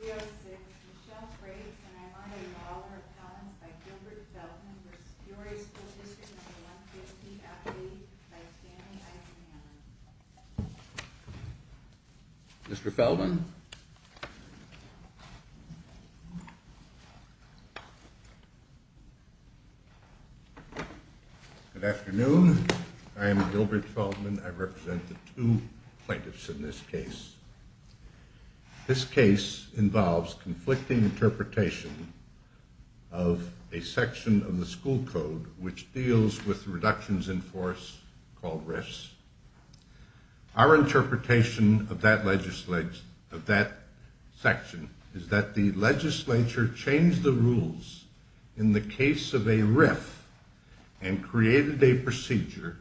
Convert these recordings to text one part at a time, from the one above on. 306, Michelle Frakes, and I'm honoring the honor of comments by Gilbert Feldman for Peoria School District No. 150, FD, by Stanley Eisenhammer. Mr. Feldman? Good afternoon. I am Gilbert Feldman. I represent the two plaintiffs in this case. This case involves conflicting interpretation of a section of the school code which deals with reductions in force called RIFs. Our interpretation of that section is that the legislature changed the rules in the case of a RIF and created a procedure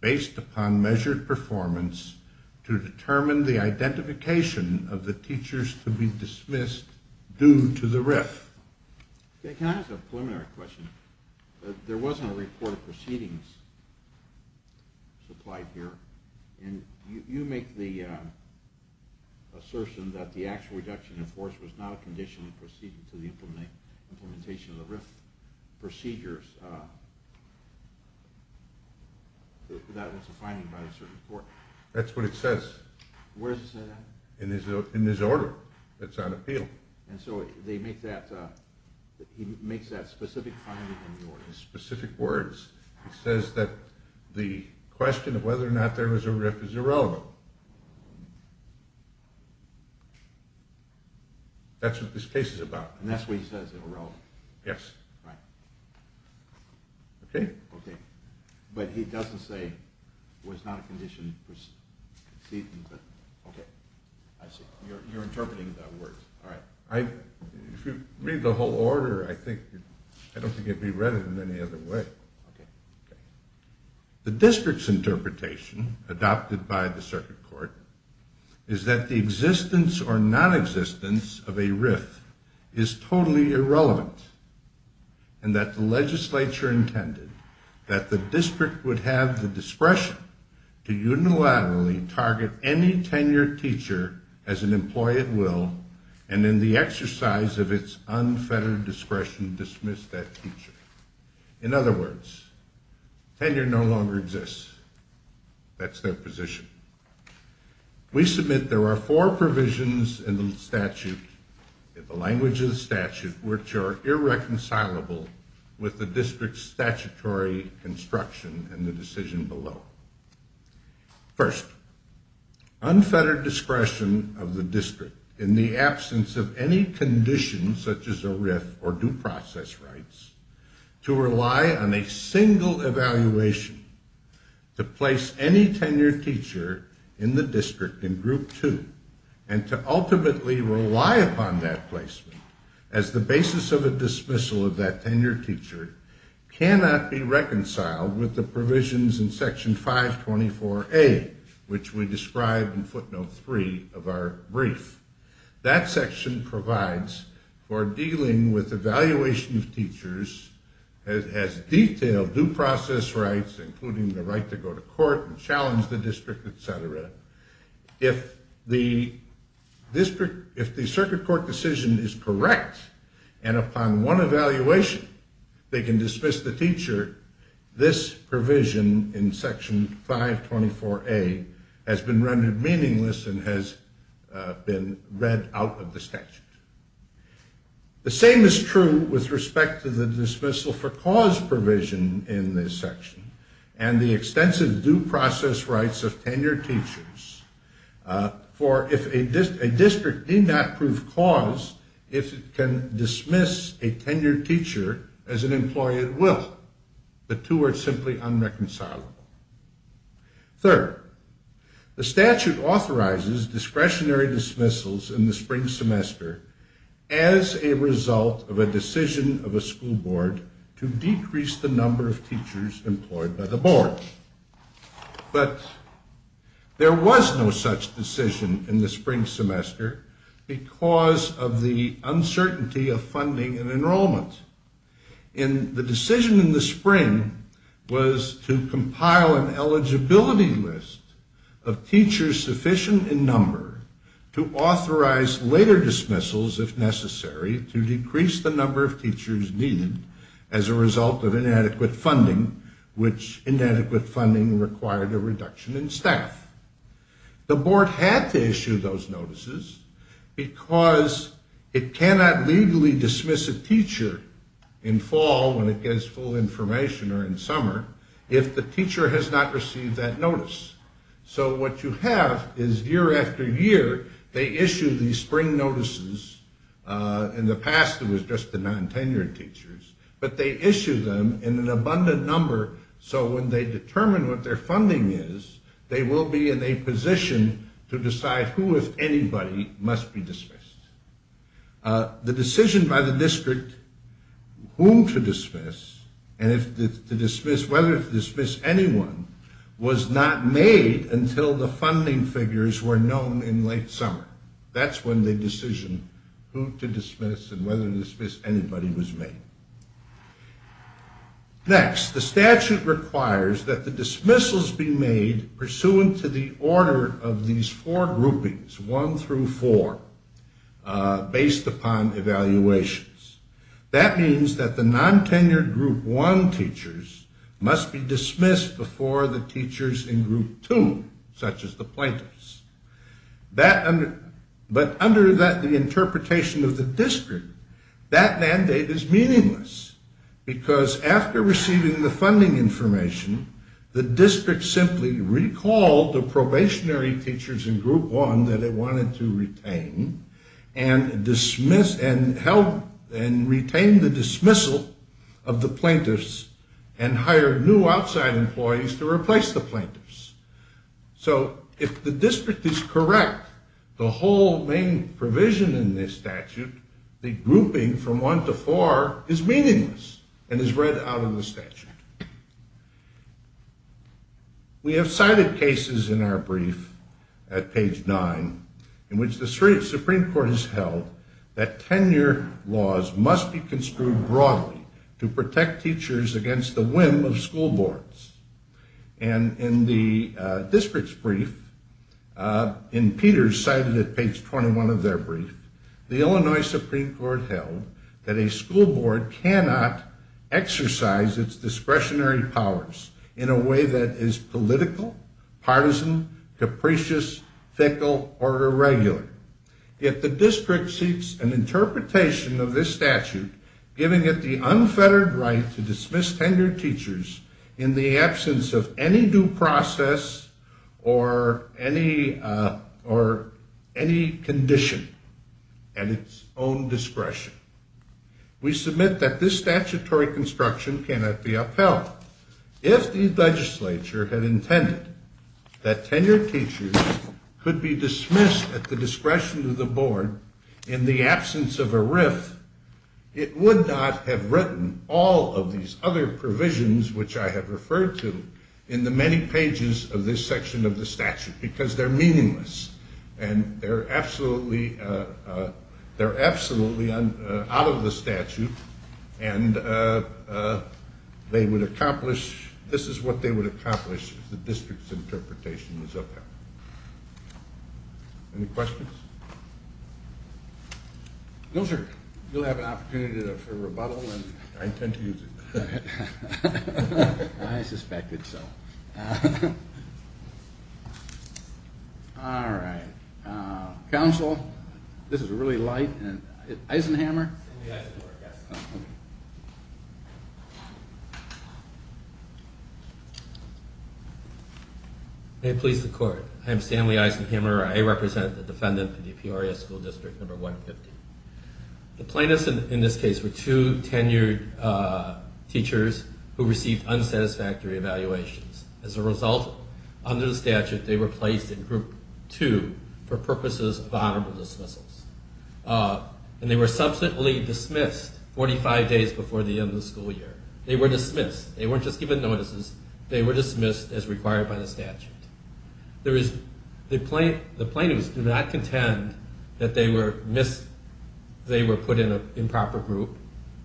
based upon measured performance to determine the identification of the teachers to be dismissed due to the RIF. Can I ask a preliminary question? There wasn't a report of proceedings supplied here, and you make the assertion that the actual reduction in force was not a conditional proceeding to the implementation of the RIF procedures. That was a finding by the Supreme Court. That's what it says. Where does it say that? In his order. It's on appeal. Okay. And so they make that, he makes that specific finding in the order. Specific words. It says that the question of whether or not there was a RIF is irrelevant. That's what this case is about. And that's what he says, irrelevant. Yes. Right. Okay. Okay. But he doesn't say it was not a conditional proceeding. Okay. I see. You're interpreting the words. Alright. If you read the whole order, I don't think it would be read in any other way. Okay. The district's interpretation, adopted by the circuit court, is that the existence or nonexistence of a RIF is totally irrelevant, and that the legislature intended that the district would have the discretion to unilaterally target any tenured teacher as an employee at will, and in the exercise of its unfettered discretion, dismiss that teacher. In other words, tenure no longer exists. That's their position. We submit there are four provisions in the statute, in the language of the statute, which are irreconcilable with the district's statutory construction and the decision below. First, unfettered discretion of the district, in the absence of any conditions such as a RIF or due process rights, to rely on a single evaluation to place any tenured teacher in the district in Group 2, and to ultimately rely upon that placement as the basis of a dismissal of that tenured teacher, cannot be reconciled with the provisions in Section 524A, which we described in footnote 3 of our brief. That section provides for dealing with evaluation of teachers as detailed due process rights, including the right to go to court and challenge the district, et cetera. If the circuit court decision is correct, and upon one evaluation they can dismiss the teacher, this provision in Section 524A has been rendered meaningless and has been read out of the statute. The same is true with respect to the dismissal for cause provision in this section, and the extensive due process rights of tenured teachers. For if a district did not prove cause, if it can dismiss a tenured teacher as an employee, it will. The two are simply unreconcilable. Third, the statute authorizes discretionary dismissals in the spring semester as a result of a decision of a school board to decrease the number of teachers employed by the board. But there was no such decision in the spring semester because of the uncertainty of funding and enrollment. And the decision in the spring was to compile an eligibility list of teachers sufficient in number to authorize later dismissals if necessary to decrease the number of teachers needed as a result of inadequate funding, which inadequate funding required a reduction in staff. The board had to issue those notices because it cannot legally dismiss a teacher in fall when it gets full information or in summer if the teacher has not received that notice. So what you have is year after year they issue these spring notices. In the past it was just the non-tenured teachers. But they issue them in an abundant number so when they determine what their funding is, they will be in a position to decide who, if anybody, must be dismissed. The decision by the district whom to dismiss and whether to dismiss anyone was not made until the funding figures were known in late summer. That's when they decision who to dismiss and whether to dismiss anybody was made. Next, the statute requires that the dismissals be made pursuant to the order of these four groupings, one through four, based upon evaluations. That means that the non-tenured group one teachers must be dismissed before the teachers in group two, such as the plaintiffs. But under the interpretation of the district, that mandate is meaningless because after receiving the funding information, the district simply recalled the probationary teachers in group one that it wanted to retain and retained the dismissal of the plaintiffs and hired new outside employees to replace the plaintiffs. So if the district is correct, the whole main provision in this statute, the grouping from one to four is meaningless and is read out of the statute. We have cited cases in our brief at page nine in which the Supreme Court has held that tenure laws must be construed broadly to protect teachers against the whim of school boards. And in the district's brief, and Peter cited at page 21 of their brief, the Illinois Supreme Court held that a school board cannot exercise its discretionary powers in a way that is political, partisan, capricious, fickle, or irregular. Yet the district seeks an interpretation of this statute giving it the unfettered right to dismiss tenured teachers in the absence of any due process or any condition at its own discretion. We submit that this statutory construction cannot be upheld. If the legislature had intended that tenured teachers could be dismissed at the discretion of the board in the absence of a riff, it would not have written all of these other provisions which I have referred to in the many pages of this section of the statute because they're meaningless and they're absolutely out of the statute and they would accomplish, this is what they would accomplish if the district's interpretation was upheld. Any questions? No, sir. You'll have an opportunity for rebuttal. I intend to use it. I suspected so. All right. Counsel, this is really light. Eisenhammer? May it please the court. I am Stanley Eisenhammer. I represent the defendant in the Peoria School District, number 150. The plaintiffs in this case were two tenured teachers who received unsatisfactory evaluations. As a result, under the statute, they were placed in group two for purposes of honorable dismissals. And they were subsequently dismissed 45 days before the end of the school year. They were dismissed. They weren't just given notices. They were dismissed as required by the statute. The plaintiffs do not contend that they were put in an improper group.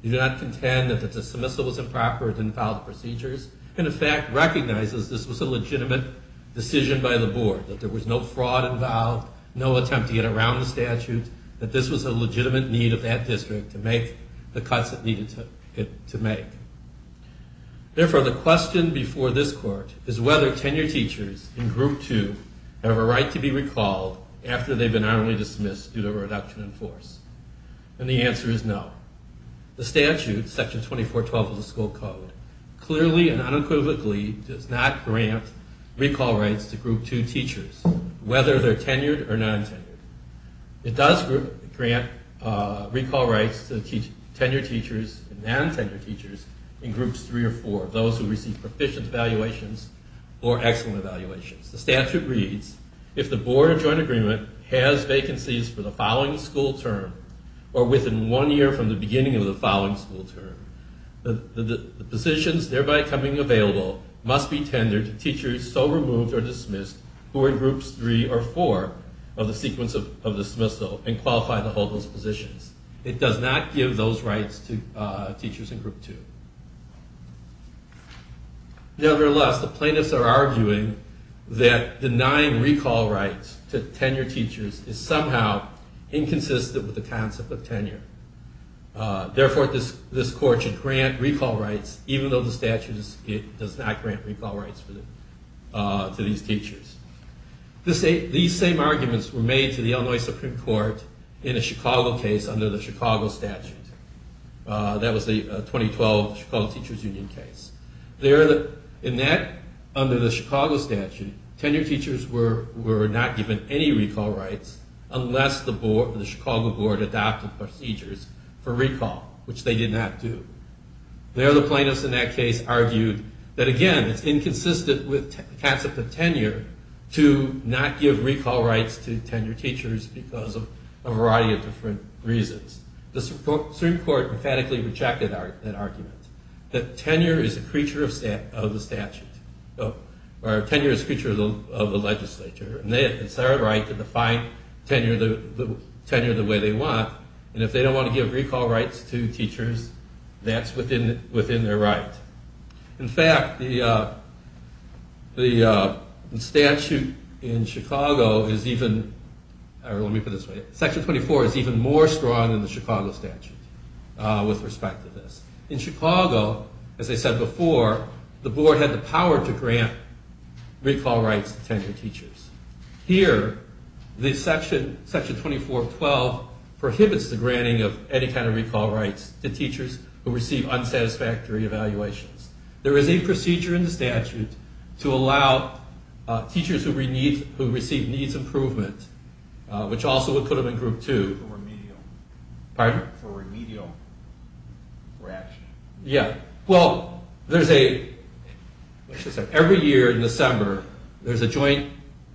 They do not contend that the dismissal was improper and didn't follow the procedures. And the fact recognizes this was a legitimate decision by the board, that there was no fraud involved, no attempt to get around the statute, that this was a legitimate need of that district to make the cuts it needed to make. Therefore, the question before this court is whether tenured teachers in group two have a right to be recalled after they've been honorably dismissed due to a reduction in force. And the answer is no. The statute, section 2412 of the school code, clearly and unequivocally does not grant recall rights to group two teachers, whether they're tenured or non-tenured. It does grant recall rights to tenured teachers and non-tenured teachers in groups three or four, those who receive proficient evaluations or excellent evaluations. The statute reads, if the board of joint agreement has vacancies for the following school term or within one year from the beginning of the following school term, the positions thereby coming available must be tendered to teachers so removed or dismissed who are in groups three or four of the sequence of dismissal and qualify to hold those positions. It does not give those rights to teachers in group two. Nevertheless, the plaintiffs are arguing that denying recall rights to tenured teachers is somehow inconsistent with the concept of tenure. Therefore, this court should grant recall rights even though the statute does not grant recall rights to these teachers. These same arguments were made to the Illinois Supreme Court in a Chicago case under the Chicago statute. That was the 2012 Chicago Teachers Union case. In that, under the Chicago statute, tenured teachers were not given any recall rights unless the Chicago board adopted procedures for recall, which they did not do. There, the plaintiffs in that case argued that, again, it's inconsistent with the concept of tenure to not give recall rights to tenured teachers because of a variety of different reasons. The Supreme Court emphatically rejected that argument, that tenure is a creature of the statute, or tenure is a creature of the legislature, and it's their right to define tenure the way they want, and if they don't want to give recall rights to teachers, that's within their right. In fact, the statute in Chicago is even, or let me put it this way, Section 24 is even more strong than the Chicago statute with respect to this. In Chicago, as I said before, the board had the power to grant recall rights to tenured teachers. Here, Section 24.12 prohibits the granting of any kind of recall rights to teachers who receive unsatisfactory evaluations. There is a procedure in the statute to allow teachers who receive needs improvement, which also would put them in Group 2. Pardon? For remedial reaction. Yeah, well, there's a, every year in December, there's a joint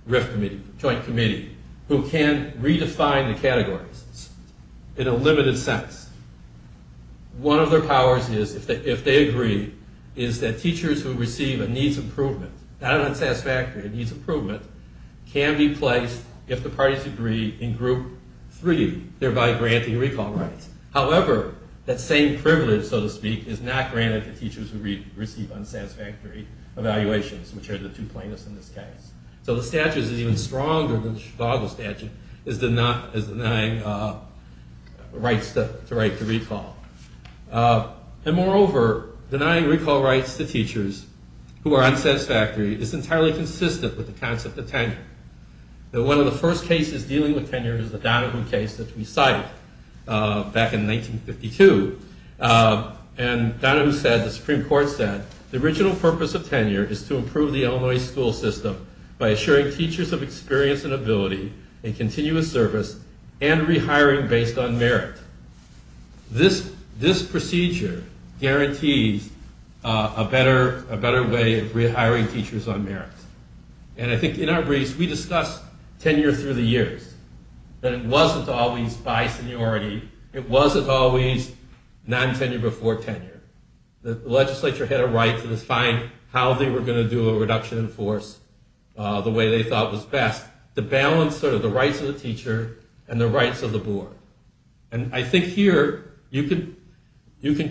committee who can redefine the categories in a limited sense. One of their powers is, if they agree, is that teachers who receive a needs improvement, not an unsatisfactory, a needs improvement, can be placed, if the parties agree, in Group 3, thereby granting recall rights. However, that same privilege, so to speak, is not granted to teachers who receive unsatisfactory evaluations, which are the two plaintiffs in this case. So the statute is even stronger than the Chicago statute is denying rights to right to recall. And moreover, denying recall rights to teachers who are unsatisfactory is entirely consistent with the concept of tenure. One of the first cases dealing with tenure is the Donahue case that we cited back in 1952. And Donahue said, the Supreme Court said, the original purpose of tenure is to improve the Illinois school system by assuring teachers of experience and ability in continuous service and rehiring based on merit. This procedure guarantees a better way of rehiring teachers on merit. And I think, in our briefs, we discussed tenure through the years, that it wasn't always by seniority, it wasn't always non-tenure before tenure. The legislature had a right to define how they were going to do a reduction in force the way they thought was best, to balance sort of the rights of the teacher and the rights of the board. And I think here, you can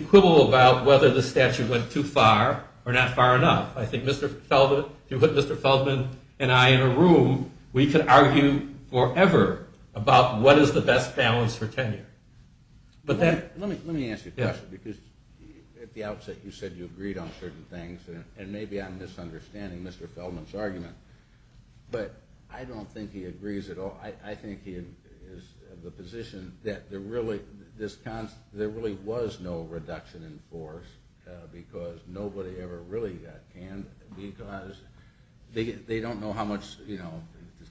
quibble about whether the statute went too far or not far enough. I think if you put Mr. Feldman and I in a room, we could argue forever about what is the best balance for tenure. Let me ask you a question, because at the outset you said you agreed on certain things, and maybe I'm misunderstanding Mr. Feldman's argument, but I don't think he agrees at all. I think he is of the position that there really was no reduction in force because nobody ever really got canned, because they don't know how much the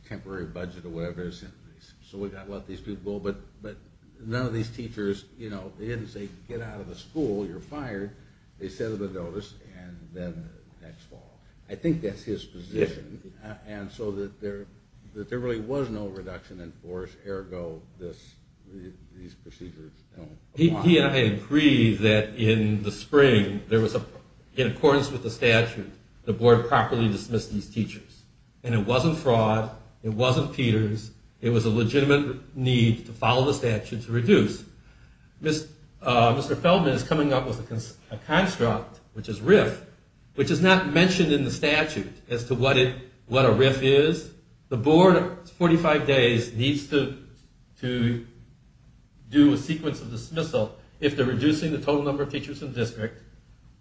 temporary budget or whatever is, so we've got to let these people go. But none of these teachers, they didn't say, get out of the school, you're fired. They set up a notice, and then next fall. I think that's his position. And so that there really was no reduction in force, ergo these procedures. He and I agreed that in the spring, in accordance with the statute, the board properly dismissed these teachers. And it wasn't fraud. It wasn't Peters. It was a legitimate need to follow the statute to reduce. Mr. Feldman is coming up with a construct, which is RIF, which is not mentioned in the statute as to what a RIF is. The board, 45 days, needs to do a sequence of dismissal if they're reducing the total number of teachers in the district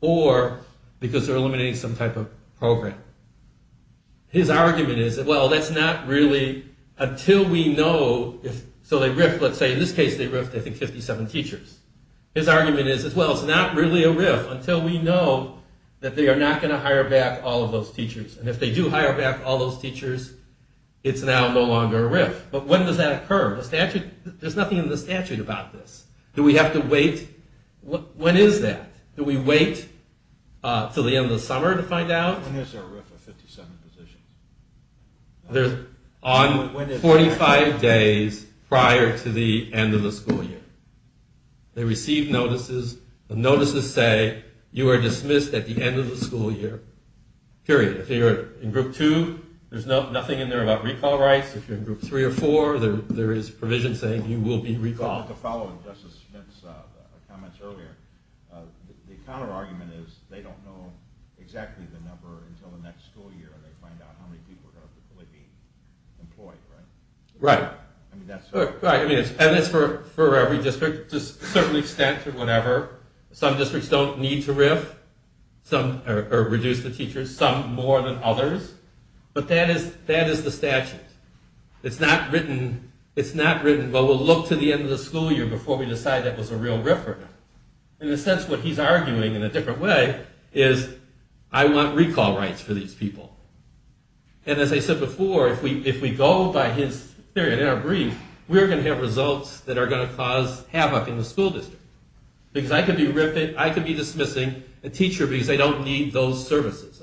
or because they're eliminating some type of program. His argument is, well, that's not really until we know, so they RIF, let's say in this case they RIFed, I think, 57 teachers. His argument is, well, it's not really a RIF until we know that they are not going to hire back all of those teachers. And if they do hire back all those teachers, it's now no longer a RIF. But when does that occur? There's nothing in the statute about this. Do we have to wait? When is that? Do we wait until the end of the summer to find out? When is there a RIF of 57 positions? On 45 days prior to the end of the school year. They receive notices. The notices say you are dismissed at the end of the school year, period. If you're in Group 2, there's nothing in there about recall rights. If you're in Group 3 or 4, there is provision saying you will be recalled. To follow up Justice Smith's comments earlier, the counterargument is they don't know exactly the number until the next school year and they find out how many people are going to be employed, right? Right. And it's for every district to a certain extent or whatever. Some districts don't need to RIF or reduce the teachers, some more than others. But that is the statute. It's not written, well, we'll look to the end of the school year before we decide that was a real RIF or not. In a sense, what he's arguing in a different way is I want recall rights for these people. And as I said before, if we go by his theory and our brief, we're going to have results that are going to cause havoc in the school district. Because I could be RIFing, I could be dismissing a teacher because they don't need those services.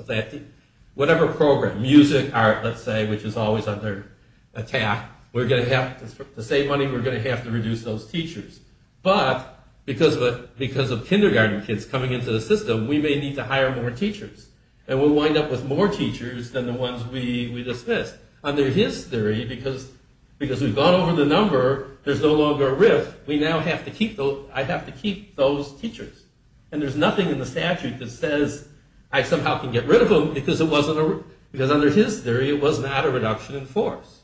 Whatever program, music, art, let's say, which is always under attack, we're going to have to save money, we're going to have to reduce those teachers. But because of kindergarten kids coming into the system, we may need to hire more teachers. And we'll wind up with more teachers than the ones we dismissed. Under his theory, because we've gone over the number, there's no longer a RIF, I have to keep those teachers. And there's nothing in the statute that says I somehow can get rid of them because under his theory, it was not a reduction in force.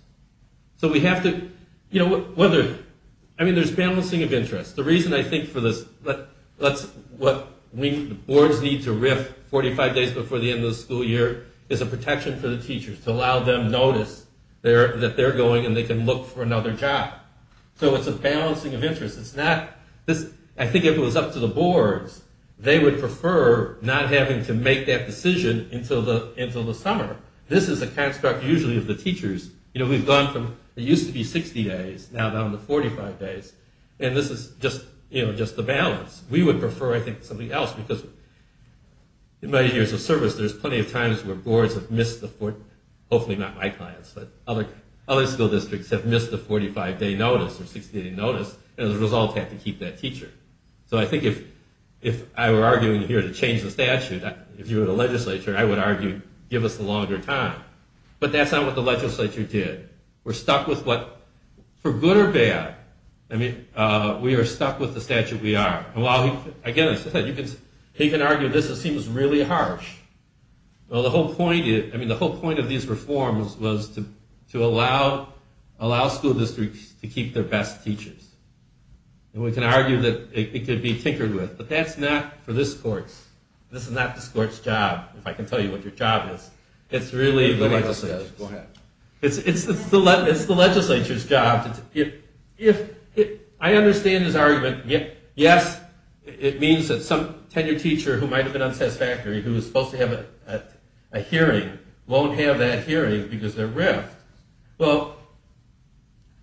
So we have to... I mean, there's balancing of interests. The reason I think for this, what boards need to RIF 45 days before the end of the school year is a protection for the teachers to allow them notice that they're going and they can look for another job. So it's a balancing of interests. I think if it was up to the boards, they would prefer not having to make that decision until the summer. This is a construct usually of the teachers. We've gone from, it used to be 60 days, now down to 45 days. And this is just the balance. We would prefer, I think, something else because in my years of service, there's plenty of times where boards have missed the... hopefully not my clients, but other school districts have missed the 45-day notice or 60-day notice and as a result have to keep that teacher. So I think if I were arguing here to change the statute, if you were the legislature, I would argue give us a longer time. But that's not what the legislature did. We're stuck with what, for good or bad, we are stuck with the statute we are. Again, he can argue this, it seems really harsh. The whole point of these reforms was to allow school districts to keep their best teachers. We can argue that it could be tinkered with, but that's not for this court. This is not this court's job, if I can tell you what your job is. It's really the legislature's. Go ahead. It's the legislature's job. I understand his argument. Yes, it means that some tenured teacher who might have been unsatisfactory who was supposed to have a hearing won't have that hearing because they're riffed. Well,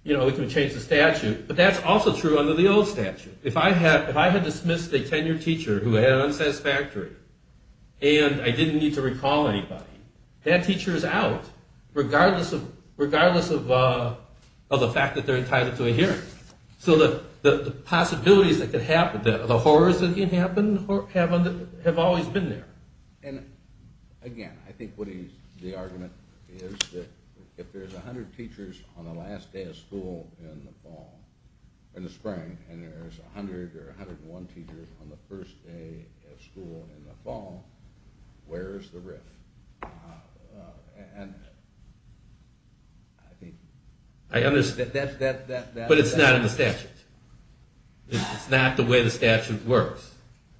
we can change the statute, but that's also true under the old statute. If I had dismissed a tenured teacher who had an unsatisfactory and I didn't need to recall anybody, that teacher is out regardless of the fact that they're entitled to a hearing. So the possibilities that could happen, the horrors that can happen, have always been there. And, again, I think the argument is that if there's 100 teachers on the last day of school in the fall, in the spring, and there's 100 or 101 teachers on the first day of school in the fall, where's the riff? But it's not in the statute. It's not the way the statute works.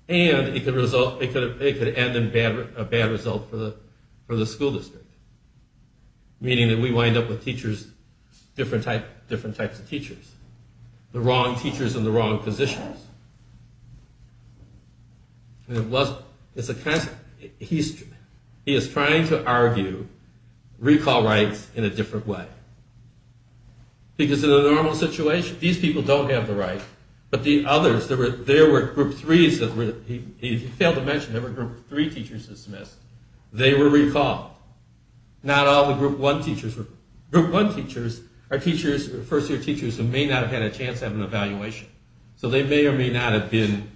And it could end in a bad result for the school district, meaning that we wind up with different types of teachers, the wrong teachers in the wrong positions. He is trying to argue recall rights in a different way. Because in a normal situation, these people don't have the right, but the others, there were group 3s, he failed to mention, there were group 3 teachers dismissed. They were recalled. Not all the group 1 teachers. Group 1 teachers are first-year teachers who may not have had a chance to have an evaluation. So they may or may not have been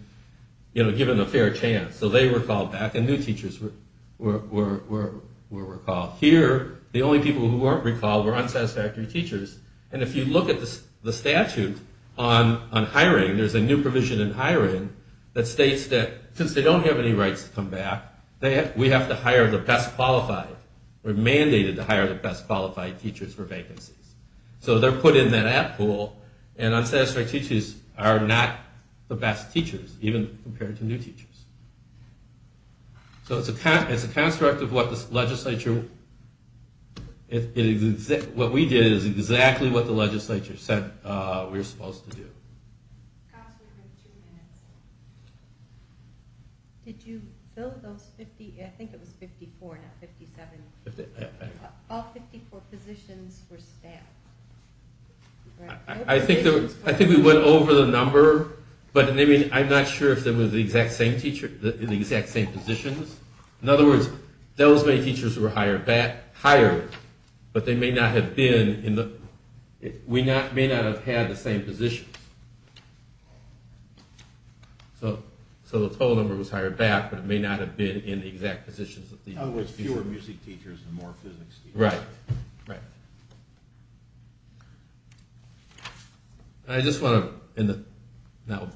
given a fair chance. So they were called back, and new teachers were recalled. Here, the only people who weren't recalled were unsatisfactory teachers. And if you look at the statute on hiring, there's a new provision in hiring that states that since they don't have any rights to come back, we have to hire the best qualified, we're mandated to hire the best qualified teachers for vacancies. So they're put in that app pool, and unsatisfactory teachers are not the best teachers, even compared to new teachers. So it's a construct of what the legislature... What we did is exactly what the legislature said we were supposed to do. Did you fill those 50... I think it was 54, not 57. All 54 positions were staff. I think we went over the number, but I'm not sure if they were the exact same positions. In other words, those many teachers were hired, but they may not have been in the... We may not have had the same positions. So the total number was hired back, but it may not have been in the exact positions. There were fewer music teachers and more physics teachers. Right, right. I just want to, in the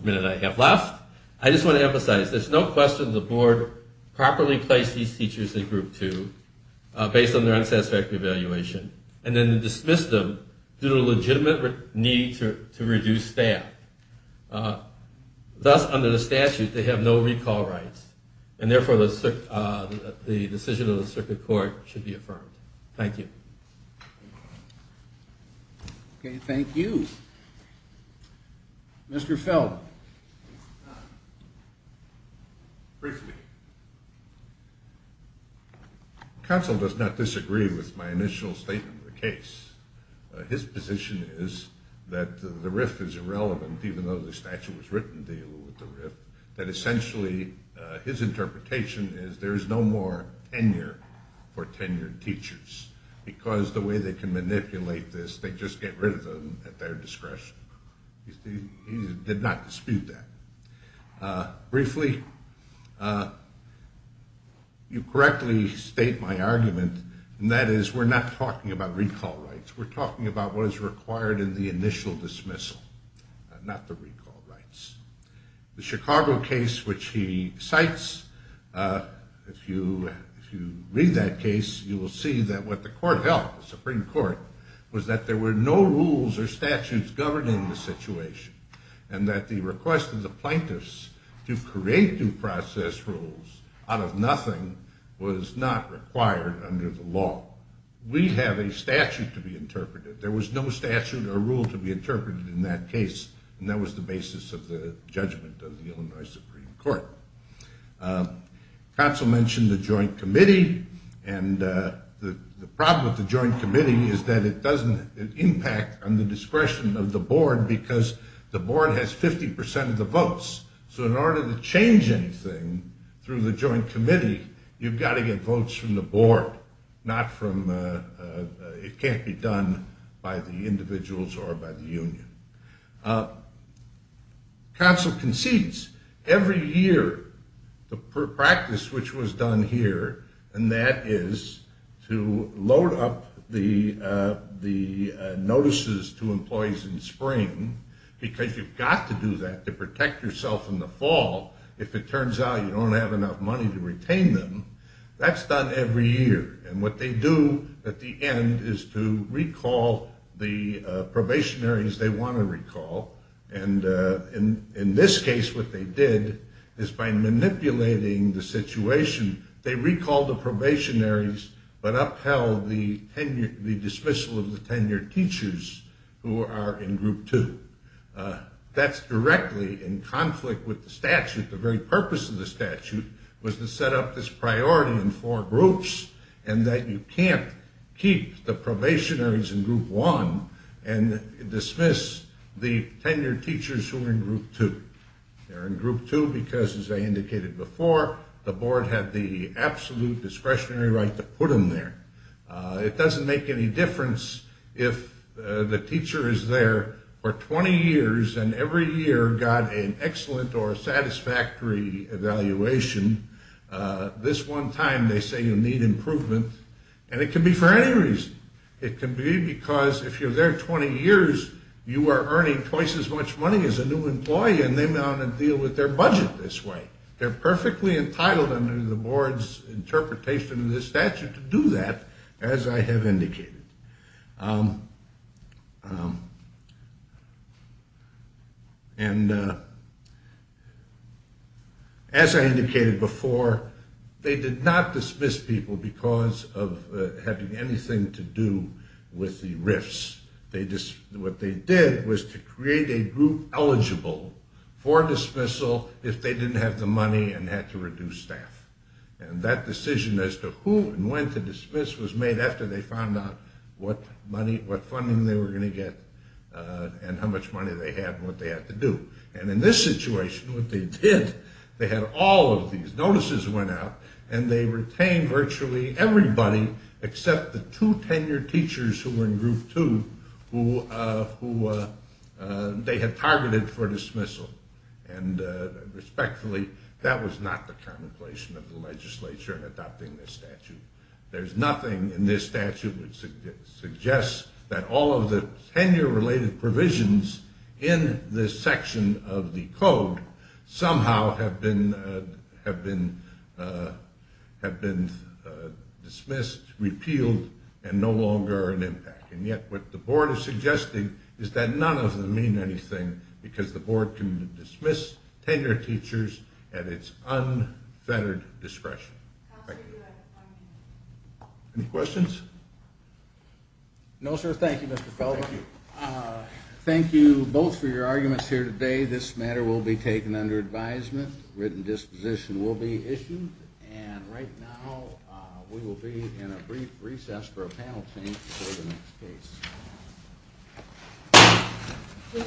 minute I have left, I just want to emphasize there's no question the board properly placed these teachers in Group 2 based on their unsatisfactory evaluation, and then dismissed them due to a legitimate need to reduce staff. Thus, under the statute, they have no recall rights, and therefore the decision of the circuit court should be affirmed. Thank you. Okay, thank you. Mr. Feld. Briefly. Counsel does not disagree with my initial statement of the case. His position is that the RIF is irrelevant, even though the statute was written to deal with the RIF, that essentially his interpretation is there is no more tenure for tenured teachers, because the way they can manipulate this, they just get rid of them at their discretion. He did not dispute that. Briefly, you correctly state my argument, and that is we're not talking about recall rights. We're talking about what is required in the initial dismissal, not the recall rights. The Chicago case, which he cites, if you read that case, you will see that what the court held, the Supreme Court, was that there were no rules or statutes governing the situation, and that the request of the plaintiffs to create due process rules out of nothing was not required under the law. We have a statute to be interpreted. There was no statute or rule to be interpreted in that case, and that was the basis of the judgment of the Illinois Supreme Court. Council mentioned the joint committee, and the problem with the joint committee is that it doesn't impact on the discretion of the board, because the board has 50% of the votes. So in order to change anything through the joint committee, you've got to get votes from the board, it can't be done by the individuals or by the union. Council concedes every year, the practice which was done here, and that is to load up the notices to employees in spring, because you've got to do that to protect yourself in the fall if it turns out you don't have enough money to retain them. That's done every year, and what they do at the end is to recall the probationaries they want to recall, and in this case what they did is by manipulating the situation, they recalled the probationaries, but upheld the dismissal of the tenured teachers who are in group two. That's directly in conflict with the statute. The very purpose of the statute was to set up this priority in four groups, and that you can't keep the probationaries in group one and dismiss the tenured teachers who are in group two. They're in group two because, as I indicated before, the board had the absolute discretionary right to put them there. It doesn't make any difference if the teacher is there for 20 years and every year got an excellent or satisfactory evaluation. This one time they say you need improvement, and it can be for any reason. It can be because if you're there 20 years, you are earning twice as much money as a new employee, and they want to deal with their budget this way. They're perfectly entitled under the board's interpretation of this statute to do that, as I have indicated. And as I indicated before, they did not dismiss people because of having anything to do with the RIFs. What they did was to create a group eligible for dismissal if they didn't have the money and had to reduce staff. And that decision as to who and when to dismiss was made after they found out what funding they were going to get and how much money they had and what they had to do. And in this situation, what they did, they had all of these notices went out and they retained virtually everybody except the two tenured teachers who were in group two who they had targeted for dismissal. And respectfully, that was not the contemplation of the legislature in adopting this statute. There's nothing in this statute that suggests that all of the tenure-related provisions in this section of the code somehow have been dismissed, repealed, and no longer are an impact. And yet what the board is suggesting is that none of them mean anything because the board can dismiss tenured teachers at its unfettered discretion. Any questions? No, sir. Thank you, Mr. Felber. Thank you. Thank you both for your arguments here today. This matter will be taken under advisement. Written disposition will be issued. And right now, we will be in a brief recess for a panel change for the next case.